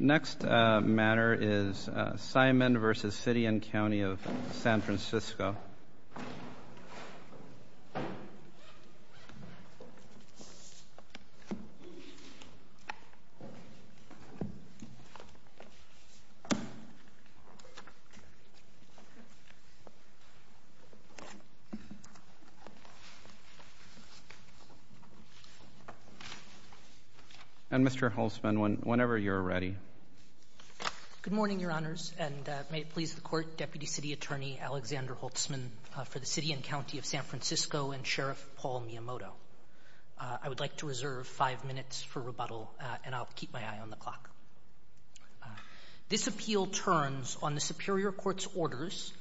Next matter is Simon v. City and County of San Francisco. And Mr. Holtzman, whenever you're ready. Good morning, Your Honors, and may it please the Court, Deputy City Attorney Alexander Holtzman for the City and County of San Francisco and Sheriff Paul Miyamoto. I would like to reserve five minutes for rebuttal, and I'll keep my eye on the clock. This appeal turns on the Superior Court's orders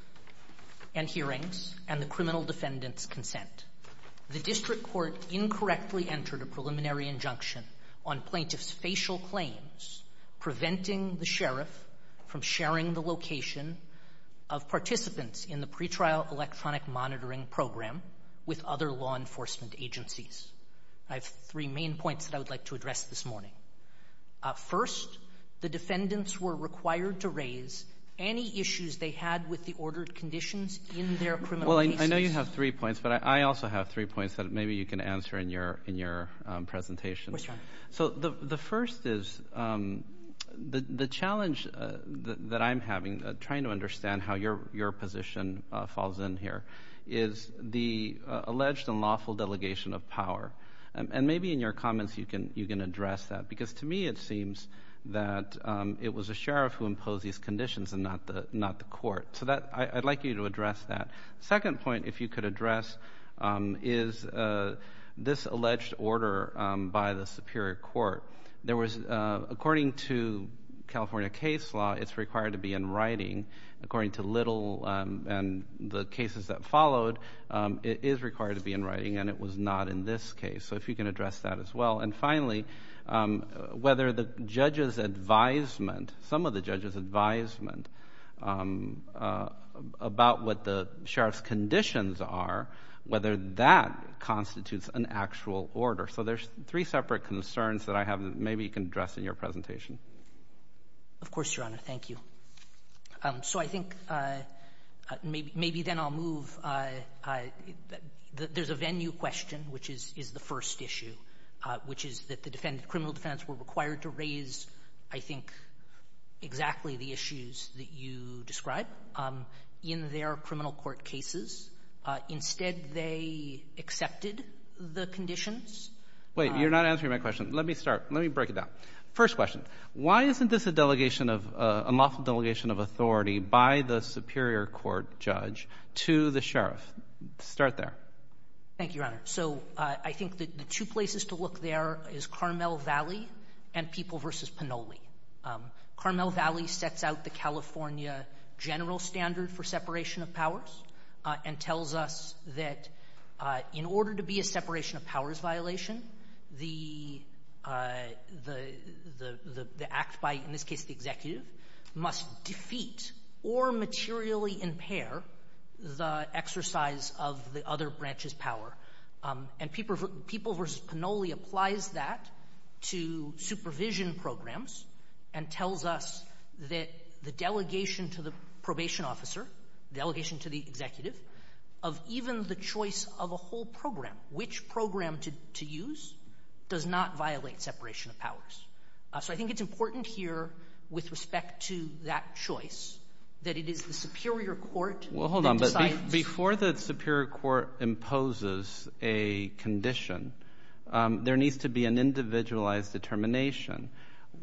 and hearings and the criminal defendant's The district court incorrectly entered a preliminary injunction on plaintiff's facial claims preventing the sheriff from sharing the location of participants in the pretrial electronic monitoring program with other law enforcement agencies. I have three main points that I would like to address this morning. First, the defendants were required to raise any issues they had with the ordered conditions in their criminal cases. Well, I know you have three points, but I also have three points that maybe you can answer in your presentation. So the first is, the challenge that I'm having, trying to understand how your position falls in here, is the alleged and lawful delegation of power. And maybe in your comments you can address that, because to me it seems that it was a sheriff who imposed these conditions and not the court. So I'd like you to address that. Second point, if you could address, is this alleged order by the Superior Court. There was, according to California case law, it's required to be in writing, according to Little and the cases that followed, it is required to be in writing, and it was not in this case. So if you can address that as well. And finally, whether the judge's advisement, some of the judge's advisement, about what the sheriff's conditions are, whether that constitutes an actual order. So there's three separate concerns that I have that maybe you can address in your presentation. Of course, Your Honor. Thank you. So I think maybe then I'll move. There's a venue question, which is the first issue, which is that the criminal defendants were required to raise, I think, exactly the issues that you describe in their criminal court cases. Instead they accepted the conditions. Wait, you're not answering my question. Let me start. Let me break it down. First question. Why isn't this a delegation of, a lawful delegation of authority by the Superior Court judge to the sheriff? Start there. Thank you, Your Honor. So I think that the two places to look there is Carmel Valley and People v. Panoli. Carmel Valley sets out the California general standard for separation of powers and tells us that in order to be a separation of powers violation, the act by, in this case, the executive must defeat or materially impair the exercise of the other branch's power. And People v. Panoli applies that to supervision programs and tells us that the delegation to the probation officer, delegation to the executive, of even the choice of a whole program, which program to use, does not violate separation of powers. So I think it's important here with respect to that choice that it is the Superior Court that decides. Before the Superior Court imposes a condition, there needs to be an individualized determination.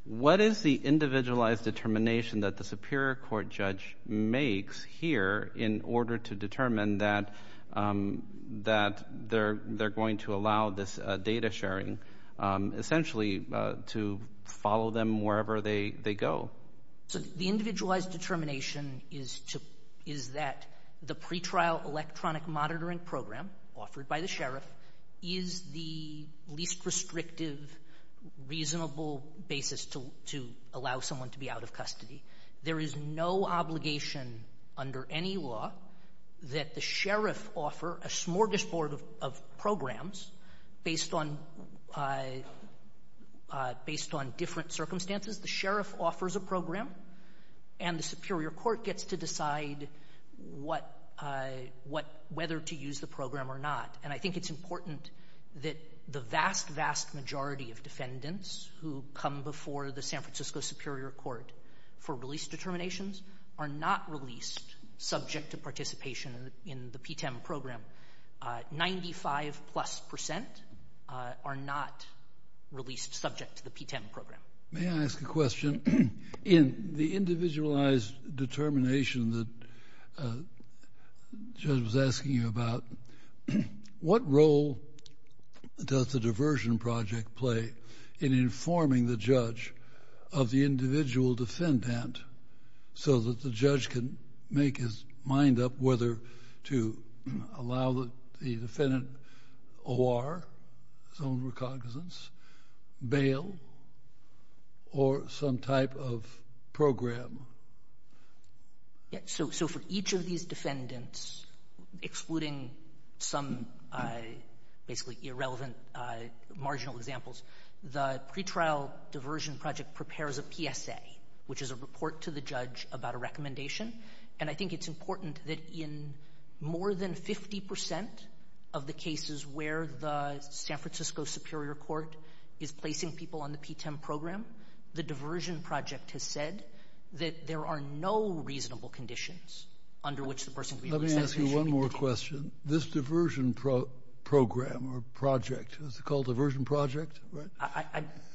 What is the individualized determination that the Superior Court judge makes here in order to determine that they're going to allow this data sharing essentially to follow them wherever they go? So the individualized determination is that the pretrial electronic monitoring program by the sheriff is the least restrictive, reasonable basis to allow someone to be out of custody. There is no obligation under any law that the sheriff offer a smorgasbord of programs based on different circumstances. The sheriff offers a program and the Superior Court gets to decide whether to use the program or not. And I think it's important that the vast, vast majority of defendants who come before the San Francisco Superior Court for release determinations are not released subject to participation in the PTEM program. Ninety-five plus percent are not released subject to the PTEM program. May I ask a question? In the individualized determination that the judge was asking you about, what role does the diversion project play in informing the judge of the individual defendant so that the judge can make his mind up whether to allow the defendant O.R., his own recognizance, bail or some type of program? Yeah. So for each of these defendants, excluding some basically irrelevant marginal examples, the pretrial diversion project prepares a PSA, which is a report to the judge about a recommendation. And I think it's important that in more than 50 percent of the cases where the San Francisco Superior Court is placing people on the PTEM program, the diversion project has said that there are no reasonable conditions under which the person can be released. Let me ask you one more question. This diversion program or project, is it called Diversion Project, right?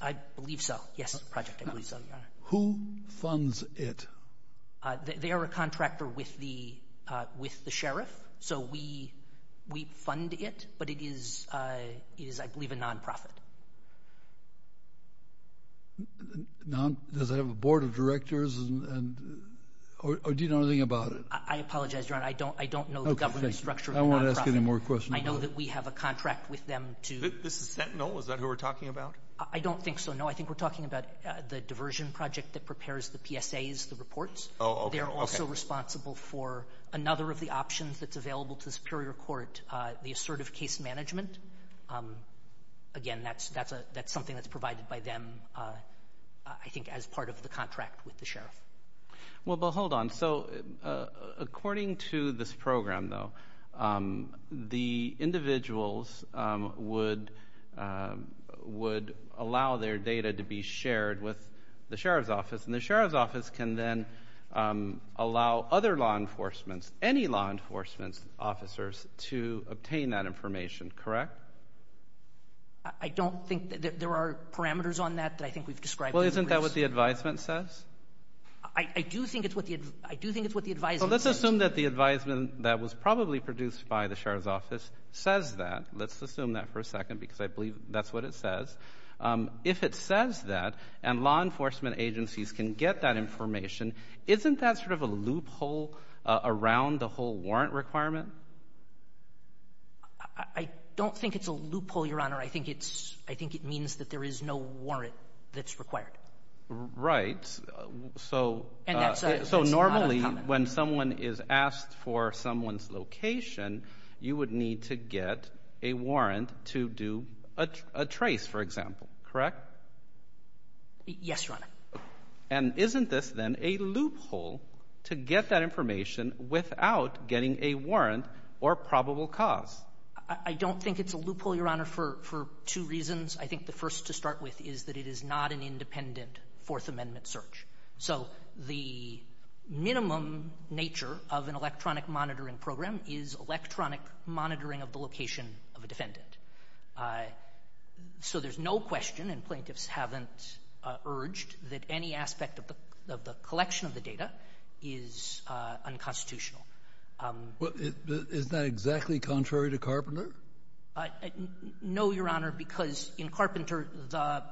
I believe so. Yes, it's a project. I believe so, Your Honor. Who funds it? They are a contractor with the sheriff. So we fund it, but it is, I believe, a nonprofit. Does it have a board of directors or do you know anything about it? I apologize, Your Honor. I don't know the government structure of the nonprofit. I won't ask any more questions. I know that we have a contract with them to... This is Sentinel? Is that who we're talking about? I don't think so, no. I think we're talking about the diversion project that prepares the PSAs, the reports. Oh, okay. They're also responsible for another of the options that's available to the Superior Court, the assertive case management. Again, that's something that's provided by them, I think, as part of the contract with the sheriff. Well, but hold on. So according to this program, though, the individuals would allow their data to be shared with the sheriff's office, and the sheriff's office can then allow other law enforcements, any law enforcement officers, to obtain that information, correct? I don't think that there are parameters on that that I think we've described. Well, isn't that what the advisement says? I do think it's what the advisement says. So let's assume that the advisement that was probably produced by the sheriff's office says that. Let's assume that for a second, because I believe that's what it says. If it says that, and law enforcement agencies can get that information, isn't that sort of a loophole around the whole warrant requirement? I don't think it's a loophole, Your Honor. I think it's — I think it means that there is no warrant that's required. Right. So — And that's not a comment. So normally, when someone is asked for someone's location, you would need to get a warrant to do a trace, for example, correct? Yes, Your Honor. And isn't this, then, a loophole to get that information without getting a warrant or probable cause? I don't think it's a loophole, Your Honor, for two reasons. I think the first to start with is that it is not an independent Fourth Amendment search. So the minimum nature of an electronic monitoring program is electronic monitoring of the location of a defendant. So there's no question, and plaintiffs haven't urged, that any aspect of the collection of the data is unconstitutional. Well, is that exactly contrary to Carpenter? No, Your Honor, because in Carpenter, the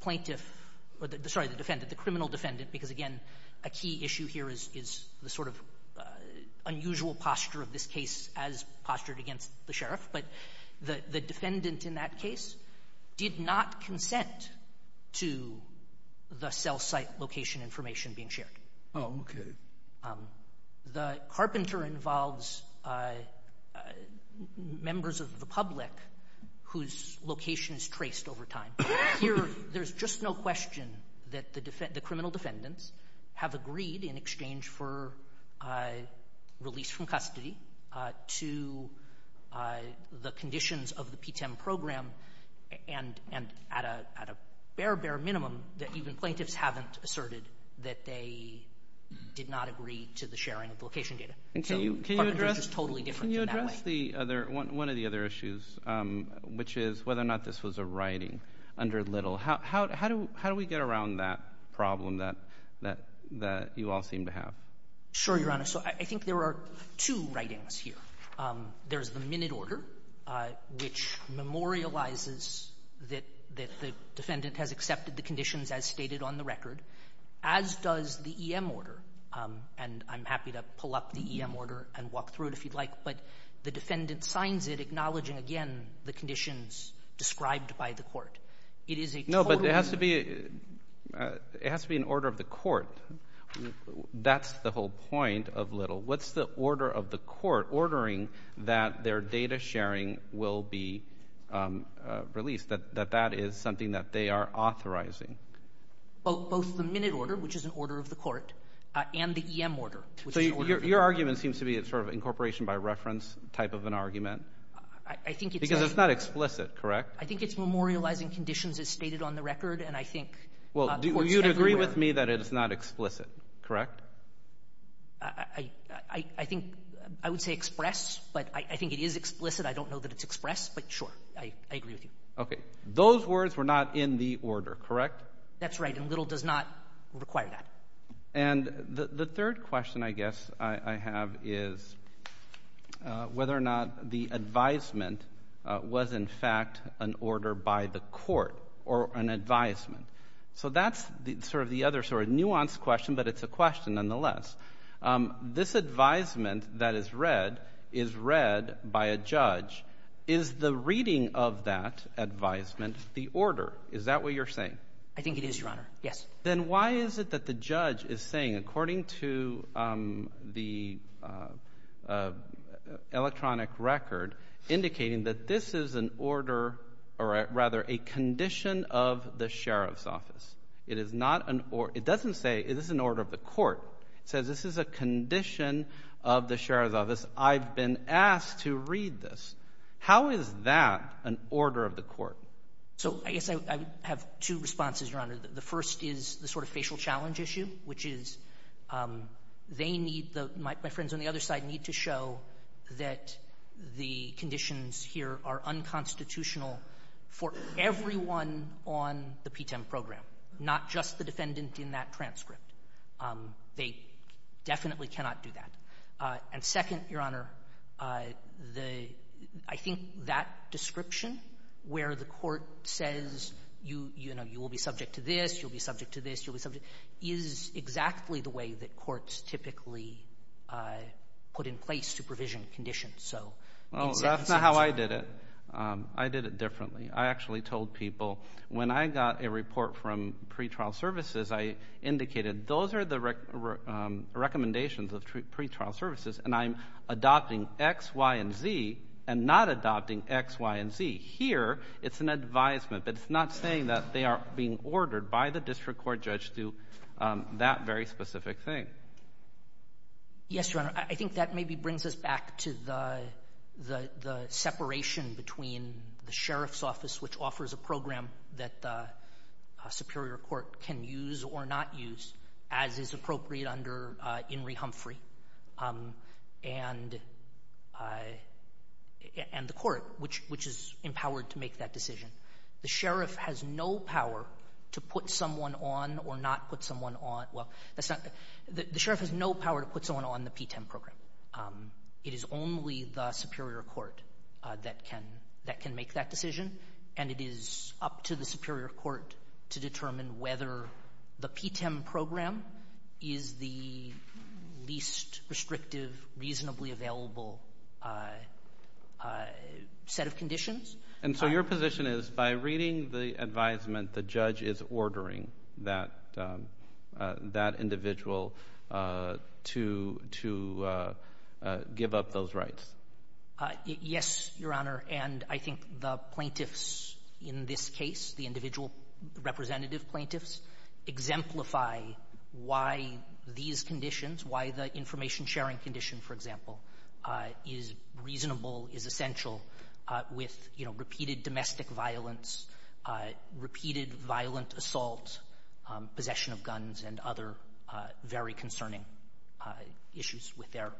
plaintiff — sorry, the defendant, the criminal defendant, because again, a key issue here is the sort of unusual posture of this case as postured against the sheriff, but the defendant in that case did not consent to the cell site location information being shared. Oh, okay. The Carpenter involves members of the public whose location is traced over time. Here, there's just no question that the criminal defendants have agreed, in exchange for release from custody, to the conditions of the PTEM program and at a bare, bare minimum that even plaintiffs haven't asserted that they did not agree to the sharing of location data. And can you address — So Carpenter is just totally different in that way. Can you address the other — one of the other issues, which is whether or not this was a writing under Little? How do we get around that problem that you all seem to have? Sure, Your Honor. So I think there are two writings here. There's the minute order, which memorializes that the defendant has accepted the conditions as stated on the record, as does the EM order. And I'm happy to pull up the EM order and walk through it if you'd like, but the defendant signs it acknowledging, again, the conditions described by the court. It is a total — No, but it has to be — it has to be an order of the court. That's the whole point of Little. What's the order of the court ordering that their data sharing will be released, that that is something that they are authorizing? Both the minute order, which is an order of the court, and the EM order, which is an order of the court. So your argument seems to be a sort of incorporation by reference type of an argument? I think it's a — Because it's not explicit, correct? I think it's memorializing conditions as stated on the record, and I think courts everywhere — Well, you'd agree with me that it's not explicit, correct? I think — I would say express, but I think it is explicit. I don't know that it's expressed, but sure, I agree with you. Okay. Those words were not in the order, correct? That's right, and Little does not require that. And the third question, I guess, I have is whether or not the advisement was, in fact, an order by the court or an advisement. So that's sort of the other sort of nuanced question, but it's a question nonetheless. This advisement that is read is read by a judge. Is the reading of that advisement the order? Is that what you're saying? I think it is, Your Honor, yes. Then why is it that the judge is saying, according to the electronic record, indicating that this is an order, or rather, a condition of the sheriff's office? It is not an — it doesn't say, is this an order of the court? It says, this is a condition of the sheriff's office. I've been asked to read this. How is that an order of the court? So I guess I have two responses, Your Honor. The first is the sort of facial challenge issue, which is they need — my friends on the other side need to show that the conditions here are unconstitutional for everyone on the P-10 program, not just the defendant in that transcript. They definitely cannot do that. And second, Your Honor, the — I think that description where the court says, you know, you will be subject to this, you'll be subject to this, you'll be subject, is exactly the way that courts typically put in place supervision conditions. So in some sense — Well, that's not how I did it. I did it differently. I actually told people, when I got a report from pretrial services, I indicated, those are the recommendations of pretrial services, and I'm adopting X, Y, and Z, and not adopting X, Y, and Z. Here, it's an advisement, but it's not saying that they are being ordered by the pre-court judge to do that very specific thing. Yes, Your Honor. I think that maybe brings us back to the separation between the sheriff's office, which offers a program that a superior court can use or not use, as is appropriate under In re Humphrey, and the court, which is empowered to make that decision. The sheriff has no power to put someone on or not put someone on — well, that's not — the sheriff has no power to put someone on the P-10 program. It is only the superior court that can — that can make that decision, and it is up to the superior court to determine whether the P-10 program is the least restrictive, reasonably available set of conditions. And so your position is, by reading the advisement, the judge is ordering that individual to give up those rights? Yes, Your Honor, and I think the plaintiffs in this case, the individual representative plaintiffs, exemplify why these conditions, why the information sharing condition, for example, is reasonable, is essential with, you know, repeated domestic violence, repeated violent assault, possession of guns, and other very concerning issues with their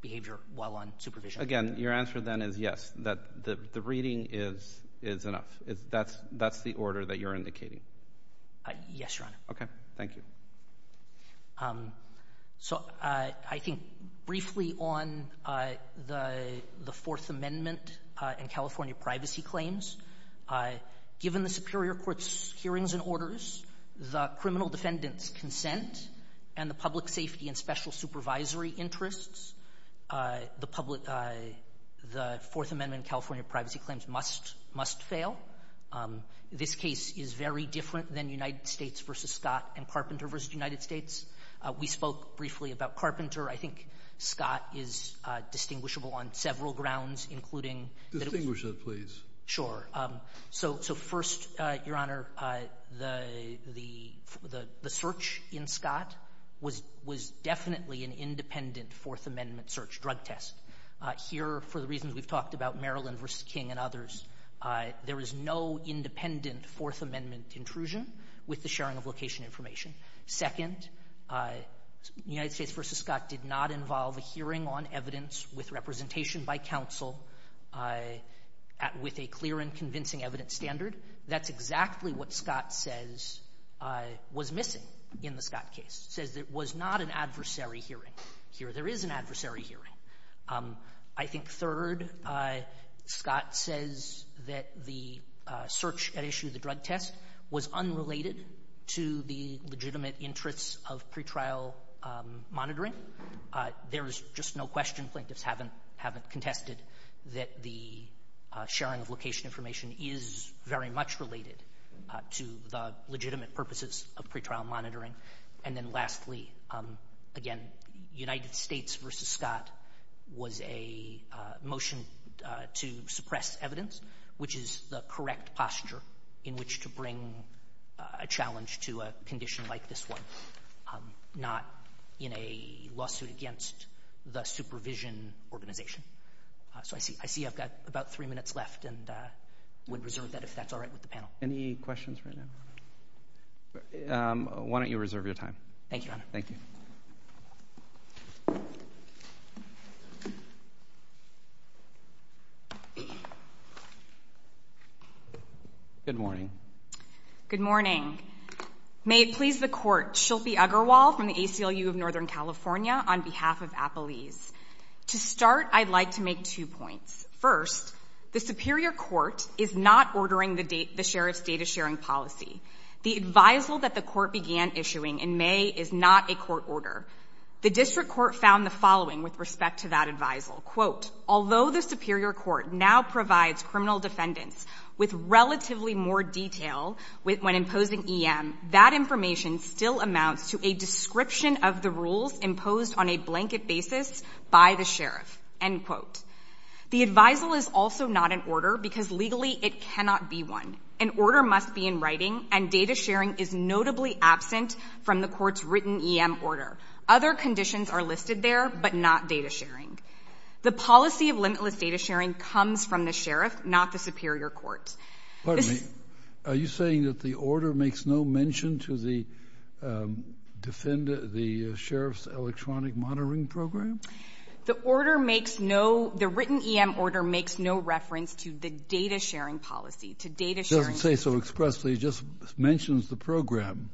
behavior while on supervision. Again, your answer then is yes, that the reading is enough. That's the order that you're indicating? Yes, Your Honor. Okay. Thank you. So, I think briefly on the Fourth Amendment and California privacy claims, given the superior court's hearings and orders, the criminal defendant's consent, and the public safety and special supervisory interests, the public — the Fourth Amendment and California privacy claims must fail. This case is very different than United States v. Scott and Carpenter v. United States. We spoke briefly about Carpenter. I think Scott is distinguishable on several grounds, including — Distinguish that, please. Sure. So, first, Your Honor, the search in Scott was definitely an independent Fourth Amendment search drug test. Here, for the reasons we've talked about, Maryland v. King and others, there was no independent Fourth Amendment intrusion with the sharing of location information. Second, United States v. Scott did not involve a hearing on evidence with representation by counsel with a clear and convincing evidence standard. That's exactly what Scott says was missing in the Scott case, says it was not an adversary hearing. Here, there is an adversary hearing. I think, third, Scott says that the search that issued the drug test was unrelated to the legitimate interests of pretrial monitoring. There is just no question plaintiffs haven't contested that the sharing of location information is very much related to the legitimate purposes of pretrial monitoring. And then, lastly, again, United States v. Scott was a motion to suppress evidence, which is the correct posture in which to bring a challenge to a condition like this one, not in a lawsuit against the supervision organization. So, I see I've got about three minutes left and would reserve that if that's all right with the panel. Any questions right now? Why don't you reserve your time? Thank you, Your Honor. Thank you. Good morning. Good morning. May it please the Court, Shilpi Uggerwal from the ACLU of Northern California on behalf of Appalese. To start, I'd like to make two points. First, the superior court is not ordering the sheriff's data sharing policy. The advisal that the court began issuing in May is not a court order. The district court found the following with respect to that advisal. Quote, although the superior court now provides criminal defendants with relatively more detail when imposing EM, that information still amounts to a description of the rules imposed on a blanket basis by the sheriff. End quote. The advisal is also not an order because legally it cannot be one. An order must be in writing and data sharing is notably absent from the court's written EM order. Other conditions are listed there, but not data sharing. The policy of limitless data sharing comes from the sheriff, not the superior court. Pardon me. Are you saying that the order makes no mention to the sheriff's electronic monitoring program? The order makes no — the written EM order makes no reference to the data sharing policy, to data sharing. It doesn't say so expressly. It just mentions the program.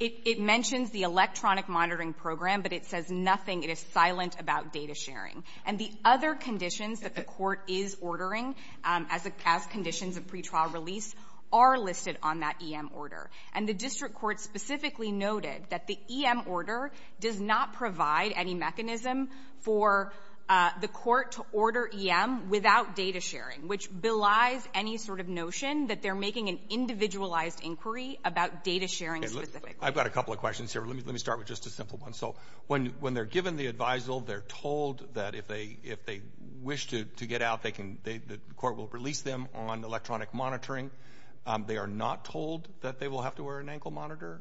It mentions the electronic monitoring program, but it says nothing. It is silent about data sharing. And the other conditions that the court is ordering as conditions of pretrial release are listed on that EM order. And the district court specifically noted that the EM order does not provide any mechanism for the court to order EM without data sharing, which belies any sort of notion that they're making an individualized inquiry about data sharing specifically. I've got a couple of questions here. Let me start with just a simple one. So when they're given the advisal, they're told that if they wish to get out, they can — the court will release them on electronic monitoring. They are not told that they will have to wear an ankle monitor,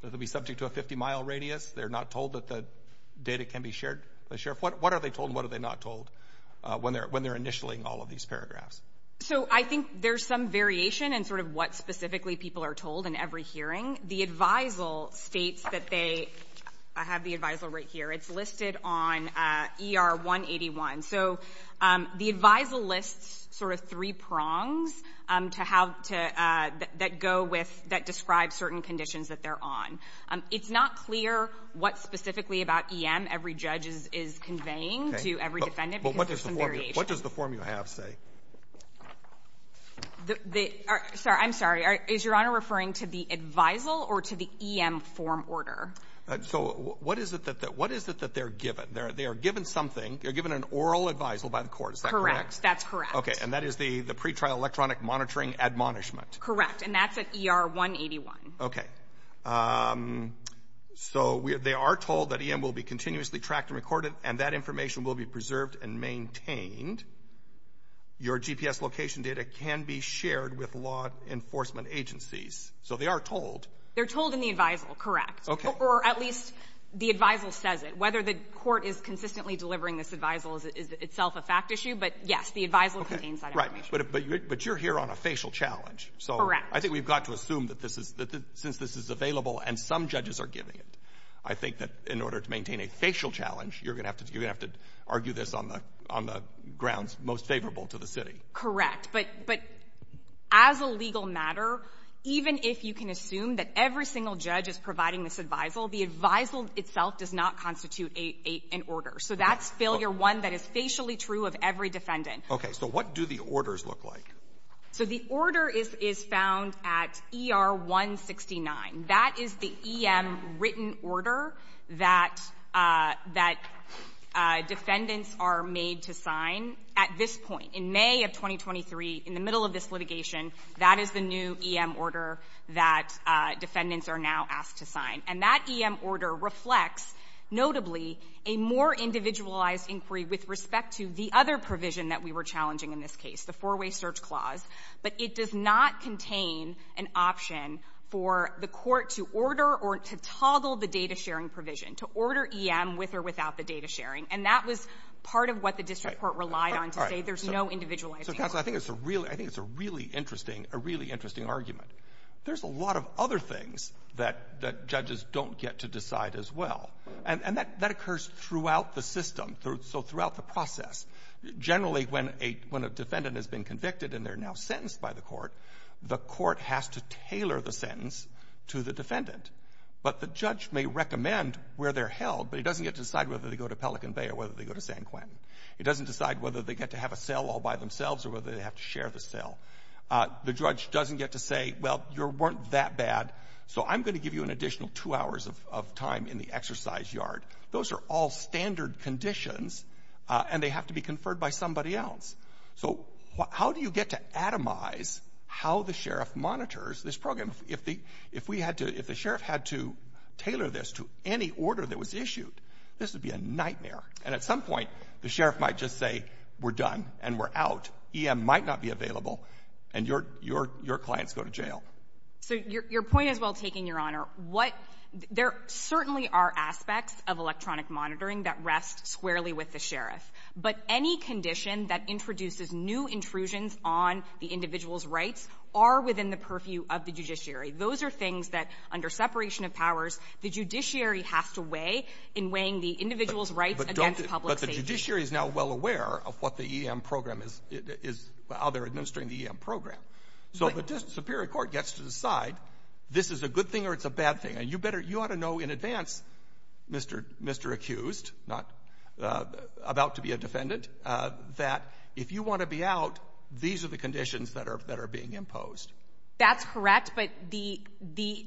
that they'll be subject to a 50-mile radius. They're not told that the data can be shared by the sheriff. What are they told and what are they not told when they're initialing all of these paragraphs? So I think there's some variation in sort of what specifically people are told in every hearing. The advisal states that they — I have the advisal right here. It's listed on ER 181. So the advisal lists sort of three prongs to how to — that go with — that describe certain conditions that they're on. It's not clear what specifically about EM every judge is conveying to every defendant because there's some variation. But what does the form you have say? The — sorry. I'm sorry. Is Your Honor referring to the advisal or to the EM form order? So what is it that — what is it that they're given? They are given something. They're given an oral advisal by the court. Is that correct? That's correct. Okay. And that is the pretrial electronic monitoring admonishment. And that's at ER 181. Okay. So they are told that EM will be continuously tracked and recorded, and that information will be preserved and maintained. Your GPS location data can be shared with law enforcement agencies. So they are told. They're told in the advisal. Correct. Okay. Or at least the advisal says it. Whether the court is consistently delivering this advisal is itself a fact issue. But, yes, the advisal contains that information. But you're here on a facial challenge. Correct. So I think we've got to assume that this is — that since this is available and some judges are giving it, I think that in order to maintain a facial challenge, you're going to have to argue this on the grounds most favorable to the city. Correct. But as a legal matter, even if you can assume that every single judge is providing this advisal, the advisal itself does not constitute an order. So that's failure one that is facially true of every defendant. Okay. So what do the orders look like? So the order is found at ER 169. That is the EM written order that defendants are made to sign at this point. In May of 2023, in the middle of this litigation, that is the new EM order that defendants are now asked to sign. And that EM order reflects, notably, a more individualized inquiry with respect to the other provision that we were challenging in this case, the four-way search clause. But it does not contain an option for the court to order or to toggle the data-sharing provision, to order EM with or without the data-sharing. And that was part of what the district court relied on to say. There's no individualized inquiry. So, counsel, I think it's a really interesting argument. There's a lot of other things that judges don't get to decide as well. And that occurs throughout the system, so throughout the process. Generally, when a defendant has been convicted and they're now sentenced by the court, the court has to tailor the sentence to the defendant. But the judge may recommend where they're held, but he doesn't get to decide whether they go to Pelican Bay or whether they go to San Quentin. He doesn't decide whether they get to have a cell all by themselves or whether they have to share the cell. The judge doesn't get to say, well, you weren't that bad, so I'm going to give you an additional two hours of time in the exercise yard. Those are all standard conditions, and they have to be conferred by somebody else. So how do you get to atomize how the sheriff monitors this program? If the sheriff had to tailor this to any order that was issued, this would be a nightmare. And at some point, the sheriff might just say, we're done and we're out. EM might not be available, and your clients go to jail. So your point is well taken, Your Honor. What — there certainly are aspects of electronic monitoring that rest squarely with the sheriff. But any condition that introduces new intrusions on the individual's rights are within the purview of the judiciary. Those are things that, under separation of powers, the judiciary has to weigh in weighing the individual's rights against public safety. But the judiciary is now well aware of what the EM program is — how they're administering the EM program. So the superior court gets to decide, this is a good thing or it's a bad thing. And you better — you ought to know in advance, Mr. — Mr. Accused, not — about to be a defendant, that if you want to be out, these are the conditions that are — that are being imposed. That's correct. But the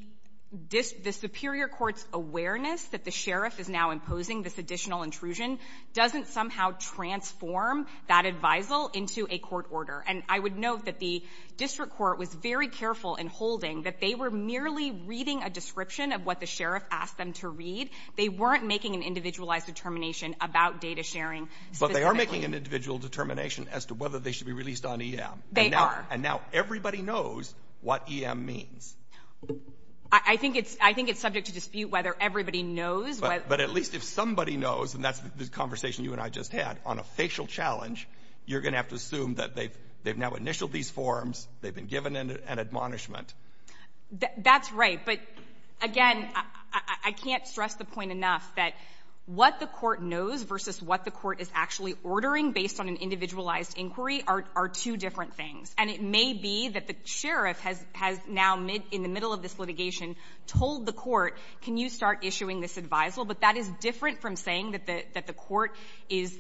superior court's awareness that the sheriff is now imposing this additional intrusion doesn't somehow transform that advisal into a court order. And I would note that the district court was very careful in holding that they were merely reading a description of what the sheriff asked them to read. They weren't making an individualized determination about data sharing. But they are making an individual determination as to whether they should be released on EM. They are. And now everybody knows what EM means. I think it's — I think it's subject to dispute whether everybody knows what — But at least if somebody knows, and that's the conversation you and I just had, on a facial challenge, you're going to have to assume that they've now initialed these forms, they've been given an admonishment. That's right. But again, I can't stress the point enough that what the court knows versus what the court is actually ordering based on an individualized inquiry are two different things. And it may be that the sheriff has now, in the middle of this litigation, told the court, can you start issuing this advisal? But that is different from saying that the court is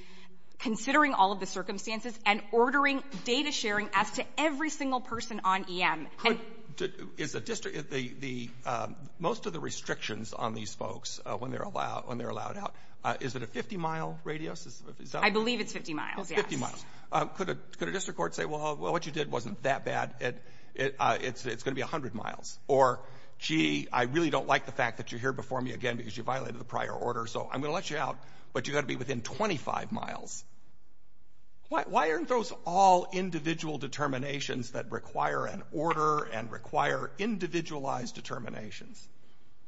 considering all of the circumstances and ordering data sharing as to every single person on EM. Could — is the district — the — most of the restrictions on these folks when they're allowed out, is it a 50-mile radius? I believe it's 50 miles, yes. It's 50 miles. Could a district court say, well, what you did wasn't that bad, it's going to be 100 miles? Or, gee, I really don't like the fact that you're here before me again because you violated the prior order, so I'm going to let you out, but you've got to be within 25 miles. Why aren't those all individual determinations that require an order and require individualized determinations?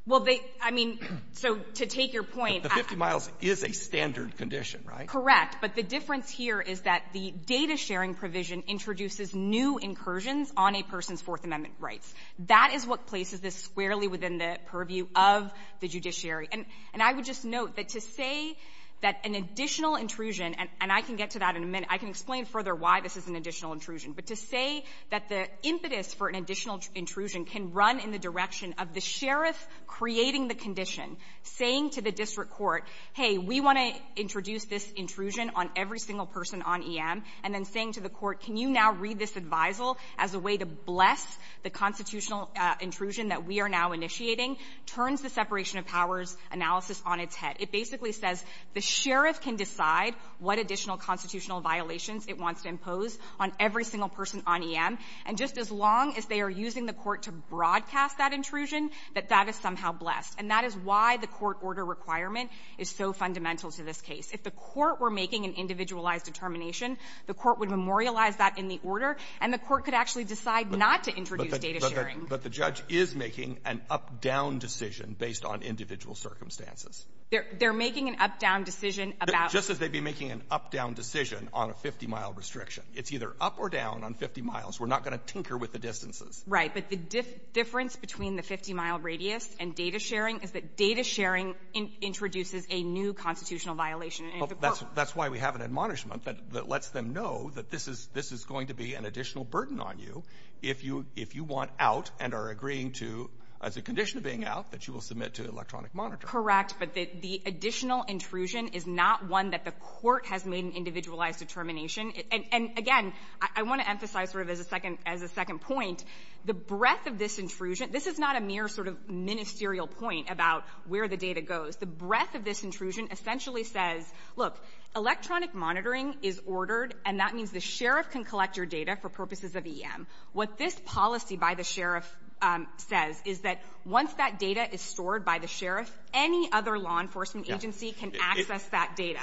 Well, they — I mean, so to take your point — But the 50 miles is a standard condition, right? Correct. But the difference here is that the data sharing provision introduces new incursions on a person's Fourth Amendment rights. That is what places this squarely within the purview of the judiciary. And I would just note that to say that an additional intrusion — and I can get to that in a minute. I can explain further why this is an additional intrusion. But to say that the impetus for an additional intrusion can run in the direction of the sheriff creating the condition, saying to the district court, hey, we want to introduce this intrusion on every single person on EM, and then saying to the court, can you now read this advisal as a way to bless the constitutional intrusion that we are now initiating, turns the separation of powers analysis on its head. It basically says the sheriff can decide what additional constitutional violations it wants to impose on every single person on EM, and just as long as they are using the court to broadcast that intrusion, that that is somehow blessed. And that is why the court order requirement is so fundamental to this case. If the court were making an individualized determination, the court would memorialize that in the order, and the court could actually decide not to introduce data sharing. But the judge is making an up-down decision based on individual circumstances. They're making an up-down decision about — Just as they'd be making an up-down decision on a 50-mile restriction. It's either up or down on 50 miles. We're not going to tinker with the distances. Right. But the difference between the 50-mile radius and data sharing is that data sharing introduces a new constitutional violation. That's why we have an admonishment that lets them know that this is going to be an additional burden on you if you want out and are agreeing to, as a condition of being out, that you will submit to electronic monitoring. Correct. But the additional intrusion is not one that the court has made an individualized determination. And, again, I want to emphasize sort of as a second point, the breadth of this intrusion — this is not a mere sort of ministerial point about where the data goes. The breadth of this intrusion essentially says, look, electronic monitoring is ordered, and that means the sheriff can collect your data for purposes of EM. What this policy by the sheriff says is that once that data is stored by the sheriff, any other law enforcement agency can access that data.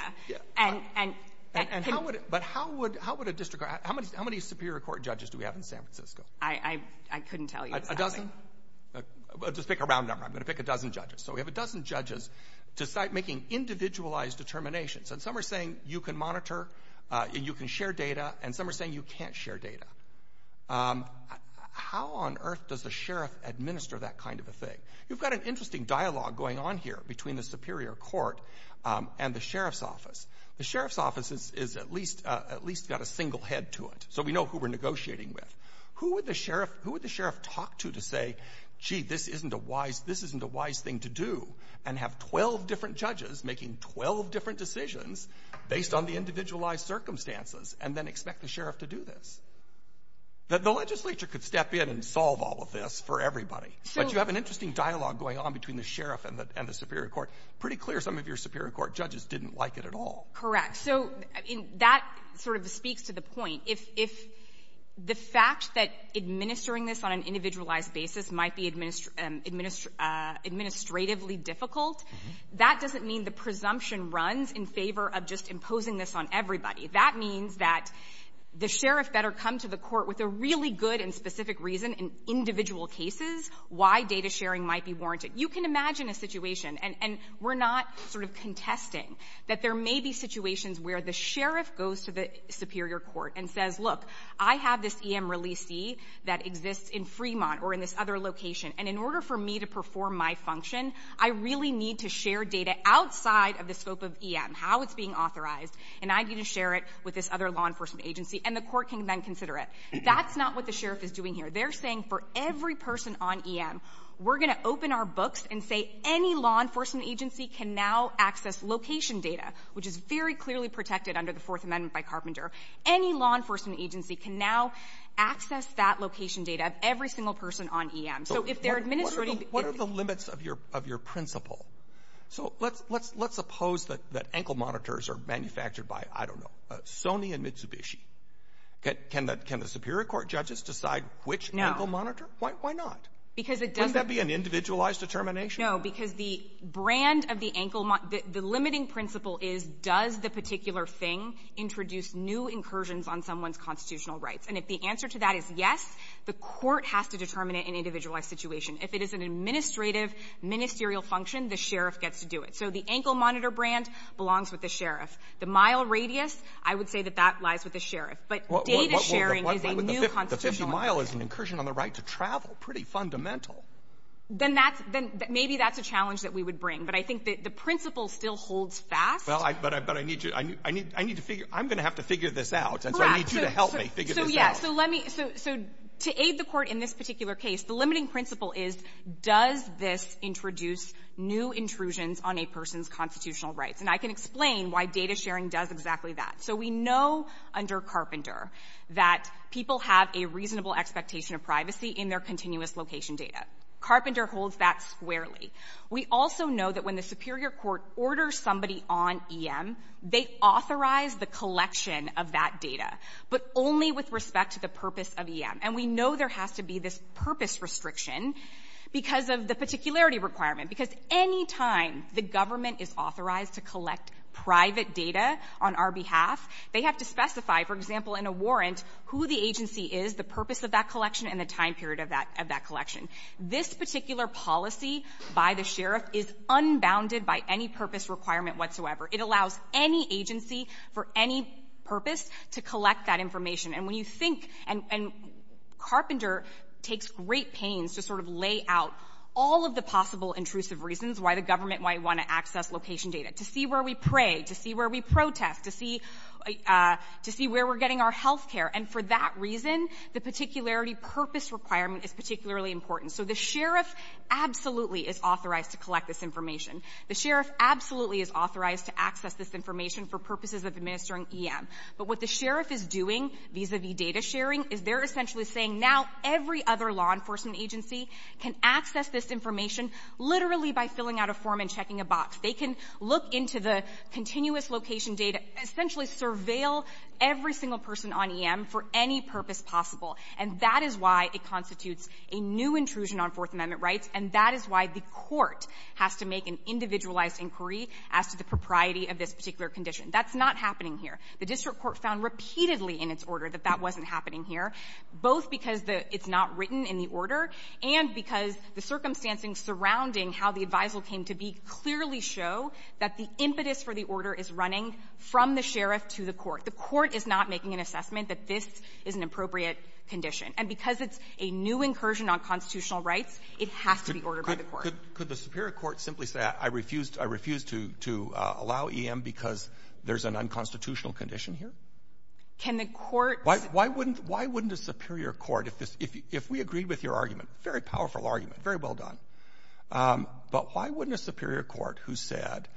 But how would a district court — how many superior court judges do we have in San Francisco? I couldn't tell you exactly. A dozen? Just pick a round number. I'm going to pick a dozen judges. So we have a dozen judges making individualized determinations. And some are saying you can monitor and you can share data, and some are saying you can't share data. How on earth does the sheriff administer that kind of a thing? You've got an interesting dialogue going on here between the superior court and the sheriff's office. The sheriff's office has at least got a single head to it, so we know who we're negotiating with. Who would the sheriff talk to to say, gee, this isn't a wise thing to do, and have 12 different judges making 12 different decisions based on the individualized circumstances, and then expect the sheriff to do this? The legislature could step in and solve all of this for everybody. But you have an interesting dialogue going on between the sheriff and the superior court. Pretty clear some of your superior court judges didn't like it at all. So that sort of speaks to the point. If the fact that administering this on an individualized basis might be administratively difficult, that doesn't mean the presumption runs in favor of just imposing this on everybody. That means that the sheriff better come to the court with a really good and specific reason in individual cases why data sharing might be warranted. You can imagine a situation, and we're not sort of contesting, that there may be situations where the sheriff goes to the superior court and says, look, I have this EM releasee that exists in Fremont or in this other location, and in order for me to perform my function, I really need to share data outside of the scope of EM, how it's being authorized, and I need to share it with this other law enforcement agency, and the court can then consider it. That's not what the sheriff is doing here. They're saying for every person on EM, we're going to open our books and say any law enforcement agency can now access location data, which is very clearly protected under the Fourth Amendment by Carpenter. Any law enforcement agency can now access that location data of every single person on EM. So if they're administrating the EM to the other person, they can access it. What are the limits of your principle? So let's suppose that ankle monitors are manufactured by, I don't know, Sony and Mitsubishi. Can the superior court judges decide which ankle monitor? Why not? Does that be an individualized determination? No, because the brand of the ankle monitor — the limiting principle is, does the particular thing introduce new incursions on someone's constitutional rights? And if the answer to that is yes, the court has to determine it in an individualized situation. If it is an administrative, ministerial function, the sheriff gets to do it. So the ankle monitor brand belongs with the sheriff. The mile radius, I would say that that lies with the sheriff. But data sharing is a new constitutional — But the 50-mile is an incursion on the right to travel. Pretty fundamental. Then that's — maybe that's a challenge that we would bring. But I think that the principle still holds fast. Well, but I need to — I need to figure — I'm going to have to figure this out. Correct. And so I need you to help me figure this out. So, yes. So let me — so to aid the court in this particular case, the limiting principle is, does this introduce new intrusions on a person's constitutional rights? And I can explain why data sharing does exactly that. So we know under Carpenter that people have a reasonable expectation of privacy in their continuous location data. Carpenter holds that squarely. We also know that when the superior court orders somebody on EM, they authorize the collection of that data, but only with respect to the purpose of EM. And we know there has to be this purpose restriction because of the particularity requirement. Because any time the government is authorized to collect private data on our behalf, they have to specify, for example, in a warrant, who the agency is, the purpose of that collection, and the time period of that — of that collection. This particular policy by the sheriff is unbounded by any purpose requirement whatsoever. It allows any agency for any purpose to collect that information. And when you think — and Carpenter takes great pains to sort of lay out all of the possible intrusive reasons why the government might want to access location data, to see where we pray, to see where we protest, to see — to see where we're getting our healthcare. And for that reason, the particularity purpose requirement is particularly important. So the sheriff absolutely is authorized to collect this information. The sheriff absolutely is authorized to access this information for purposes of administering EM. But what the sheriff is doing vis-a-vis data sharing is they're essentially saying now every other law enforcement agency can access this information literally by filling out a form and checking a box. They can look into the continuous location data, essentially surveil every single person on EM for any purpose possible. And that is why it constitutes a new intrusion on Fourth Amendment rights, and that is why the court has to make an individualized inquiry as to the propriety of this particular condition. That's not happening here. The district court found repeatedly in its order that that wasn't happening here. Both because it's not written in the order and because the circumstances surrounding how the advisal came to be clearly show that the impetus for the order is running from the sheriff to the court. The court is not making an assessment that this is an appropriate condition. And because it's a new incursion on constitutional rights, it has to be ordered by the court. Could the superior court simply say, I refuse to allow EM because there's an unconstitutional condition here? Can the court — Why wouldn't a superior court, if we agree with your argument, very powerful argument, very well done, but why wouldn't a superior court who said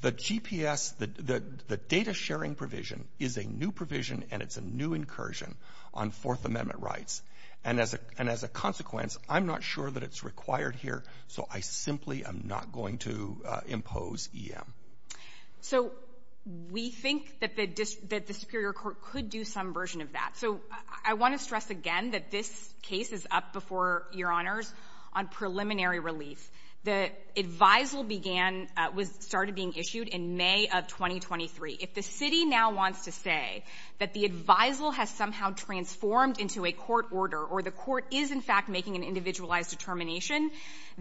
the GPS, the data-sharing provision is a new provision and it's a new incursion on Fourth Amendment rights, and as a consequence, I'm not sure that it's required here, so I simply am not going to impose EM? So we think that the superior court could do some version of that. So I want to stress again that this case is up before Your Honors on preliminary relief. The advisal began — started being issued in May of 2023. If the city now wants to say that the advisal has somehow transformed into a court order or the court is, in fact, making an individualized determination,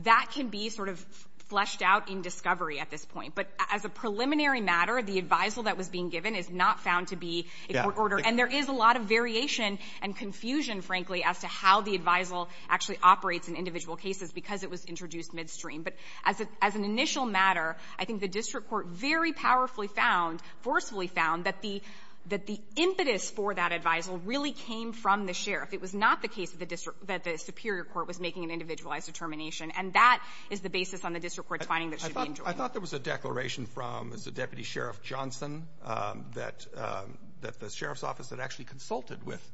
that can be sort of fleshed out in discovery at this point. But as a preliminary matter, the advisal that was being given is not found to be a court order. And there is a lot of variation and confusion, frankly, as to how the advisal actually operates in individual cases because it was introduced midstream. But as an initial matter, I think the district court very powerfully found, forcefully found, that the impetus for that advisal really came from the sheriff. It was not the case of the district — that the superior court was making an individualized determination. And that is the basis on the district court's finding that it should be enjoined. I thought there was a declaration from the deputy sheriff Johnson that the sheriff's office had actually consulted with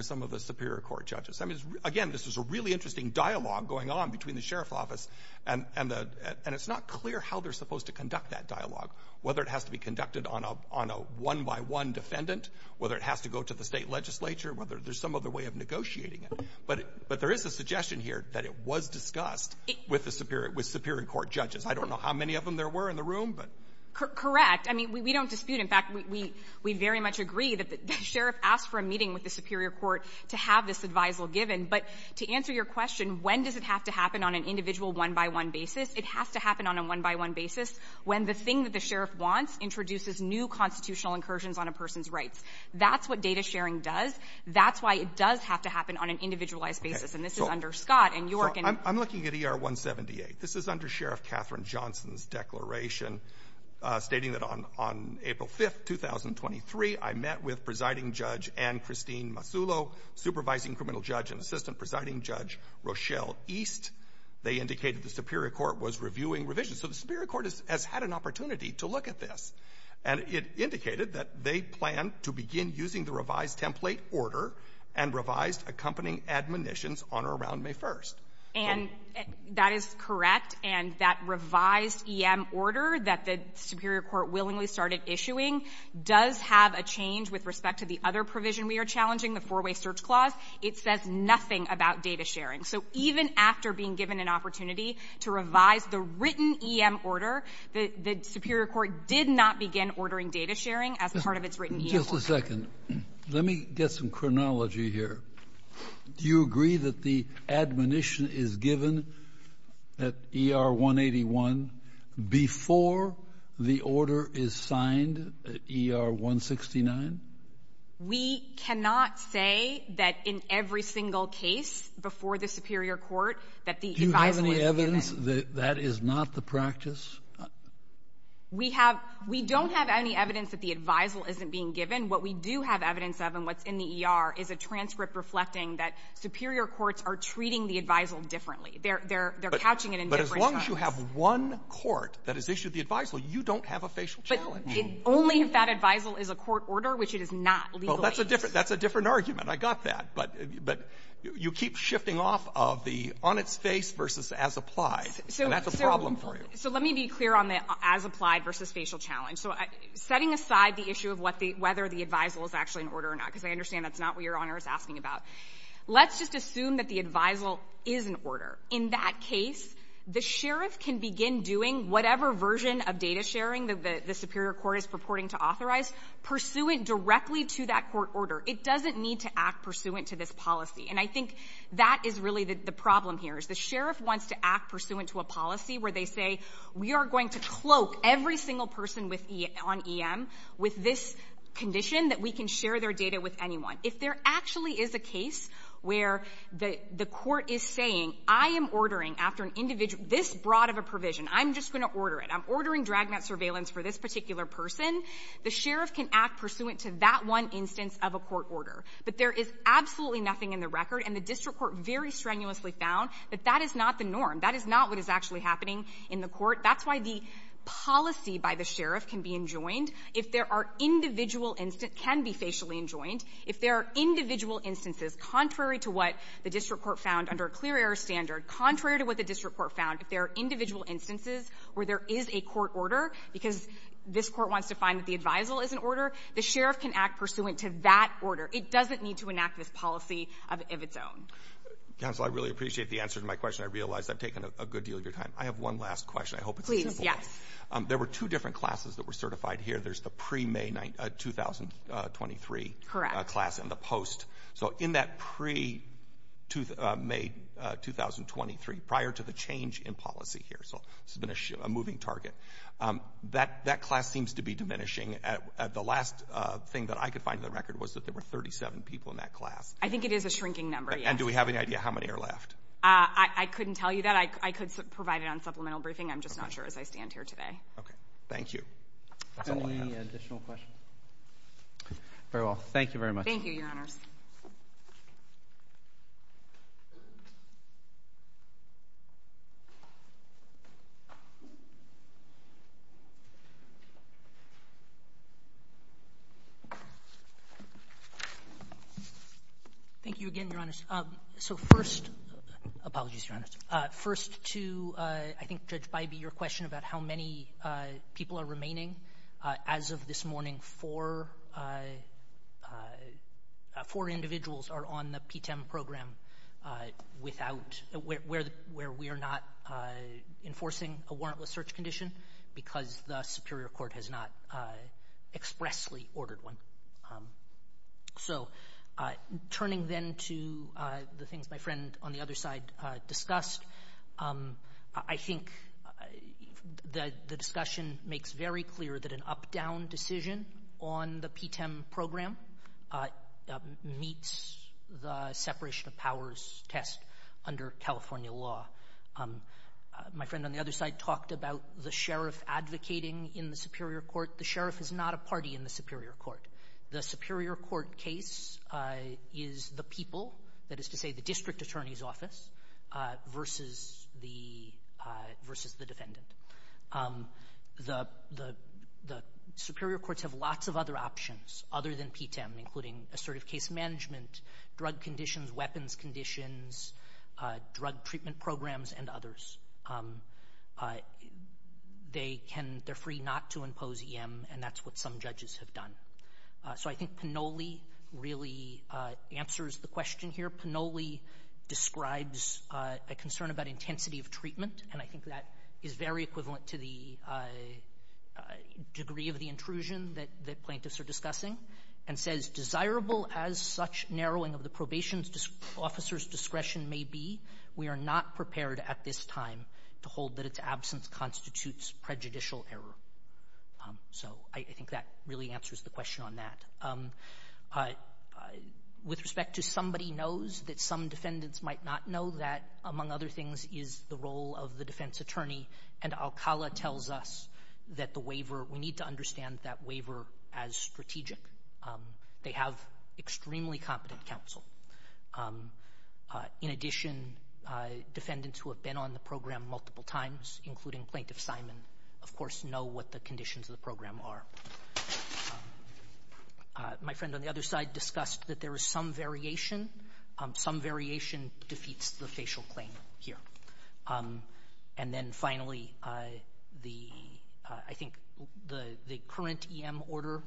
some of the superior court judges. I mean, again, this is a really interesting dialogue going on between the sheriff's office and the — and it's not clear how they're supposed to conduct that dialogue, whether it has to be conducted on a one-by-one defendant, whether it has to go to the state legislature, whether there's some other way of negotiating it. But there is a suggestion here that it was discussed with the superior — with superior court judges. I don't know how many of them there were in the room, but — I mean, we don't dispute. In fact, we very much agree that the sheriff asked for a meeting with the superior court to have this advisal given. But to answer your question, when does it have to happen on an individual one-by-one basis, it has to happen on a one-by-one basis when the thing that the sheriff wants introduces new constitutional incursions on a person's rights. That's what data sharing does. That's why it does have to happen on an individualized basis. And this is under Scott and York and — and Johnson's declaration, stating that on — on April 5th, 2023, I met with Presiding Judge Ann Christine Masulo, supervising criminal judge and assistant presiding judge Rochelle East. They indicated the superior court was reviewing revisions. So the superior court has had an opportunity to look at this. And it indicated that they planned to begin using the revised template order and revised accompanying admonitions on or around May 1st. And that is correct. And that revised E.M. order that the superior court willingly started issuing does have a change with respect to the other provision we are challenging, the four-way search clause. It says nothing about data sharing. So even after being given an opportunity to revise the written E.M. order, the — the superior court did not begin ordering data sharing as part of its written E.M. order. Just a second. Let me get some chronology here. Do you agree that the admonition is given at E.R. 181 before the order is signed at E.R. 169? We cannot say that in every single case before the superior court that the — Do you have any evidence that that is not the practice? We have — we don't have any evidence that the advisal isn't being given. What we do have evidence of and what's in the E.R. is a transcript reflecting that superior courts are treating the advisal differently. They're — they're couching it in different channels. But as long as you have one court that has issued the advisal, you don't have a facial challenge. But only if that advisal is a court order, which it is not legally. Well, that's a different — that's a different argument. I got that. But — but you keep shifting off of the on-its-face versus as-applied, and that's a problem for you. So let me be clear on the as-applied versus facial challenge. So setting aside the issue of what the — whether the advisal is actually an order or not, because I understand that's not what Your Honor is asking about, let's just assume that the advisal is an order. In that case, the sheriff can begin doing whatever version of data sharing that the superior court is purporting to authorize pursuant directly to that court order. It doesn't need to act pursuant to this policy. And I think that is really the problem here, is the sheriff wants to act pursuant to a policy where they say, we are going to cloak every single person with — on EM with this condition that we can share their data with anyone. If there actually is a case where the court is saying, I am ordering after an individual this broad of a provision, I'm just going to order it, I'm ordering drag mat surveillance for this particular person, the sheriff can act pursuant to that one instance of a court order. But there is absolutely nothing in the record, and the district court very strenuously found that that is not the norm. That is not what is actually happening in the court. That's why the policy by the sheriff can be enjoined. If there are individual instance — can be facially enjoined, if there are individual instances contrary to what the district court found under a clear error standard, contrary to what the district court found, if there are individual instances where there is a court order because this court wants to find that the advisal is an order, the sheriff can act pursuant to that order. It doesn't need to enact this policy of its own. Roberts. Counsel, I really appreciate the answer to my question. I realize I've taken a good deal of your time. I have one last question. I hope it's a simple one. Please, yes. There were two different classes that were certified here. There's the pre-May 2023 — Correct. — class and the post. So in that pre-May 2023, prior to the change in policy here, so this has been a moving target, that class seems to be diminishing. The last thing that I could find in the record was that there were 37 people in that class. I think it is a shrinking number, yes. And do we have any idea how many are left? I couldn't tell you that. I could provide it on supplemental briefing. I'm just not sure as I stand here today. Okay. Thank you. That's all I have. Any additional questions? Very well. Thank you very much. Thank you, Your Honors. Thank you again, Your Honors. So first — apologies, Your Honors — first to, I think, Judge Bybee, your question about how many people are remaining. As of this morning, four individuals are on the PTEM program without — where we are not enforcing a warrantless search condition because the Superior Court has not expressly ordered one. So turning then to the things my friend on the other side discussed, I think the discussion makes very clear that an up-down decision on the PTEM program meets the separation of powers test under California law. My friend on the other side talked about the sheriff advocating in the Superior Court. The sheriff is not a party in the Superior Court. The Superior Court case is the people, that is to say the district attorney's office, versus the defendant. The Superior Courts have lots of other options other than PTEM, including assertive case management, drug conditions, weapons conditions, drug treatment programs, and others. They can — they're free not to impose EM, and that's what some judges have done. So I think Panoli really answers the question here. Panoli describes a concern about intensity of treatment, and I think that is very equivalent to the degree of the intrusion that plaintiffs are discussing, and says, As desirable as such narrowing of the probation officer's discretion may be, we are not prepared at this time to hold that its absence constitutes prejudicial error. So I think that really answers the question on that. With respect to somebody knows that some defendants might not know that, among other things, is the role of the defense attorney, and Alcala tells us that the waiver — we need to understand that waiver as strategic. They have extremely competent counsel. In addition, defendants who have been on the program multiple times, including Plaintiff Simon, of course know what the conditions of the program are. My friend on the other side discussed that there is some variation. Some variation defeats the facial claim here. And then finally, I think the current EM order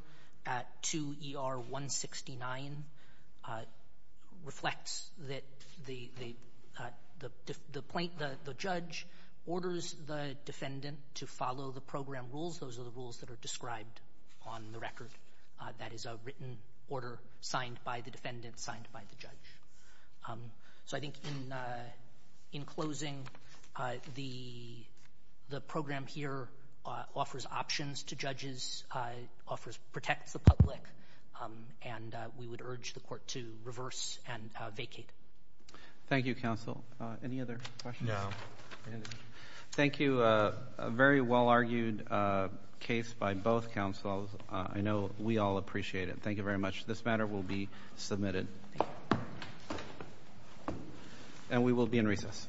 at 2 ER 169 reflects that the judge orders the defendant to follow the program rules. Those are the rules that are described on the record. That is a written order signed by the defendant, signed by the judge. So I think in closing, the program here offers options to judges, protects the public, and we would urge the court to reverse and vacate. Thank you, counsel. Any other questions? Thank you. A very well-argued case by both counsels. I know we all appreciate it. Thank you very much. This matter will be submitted. And we will be in recess.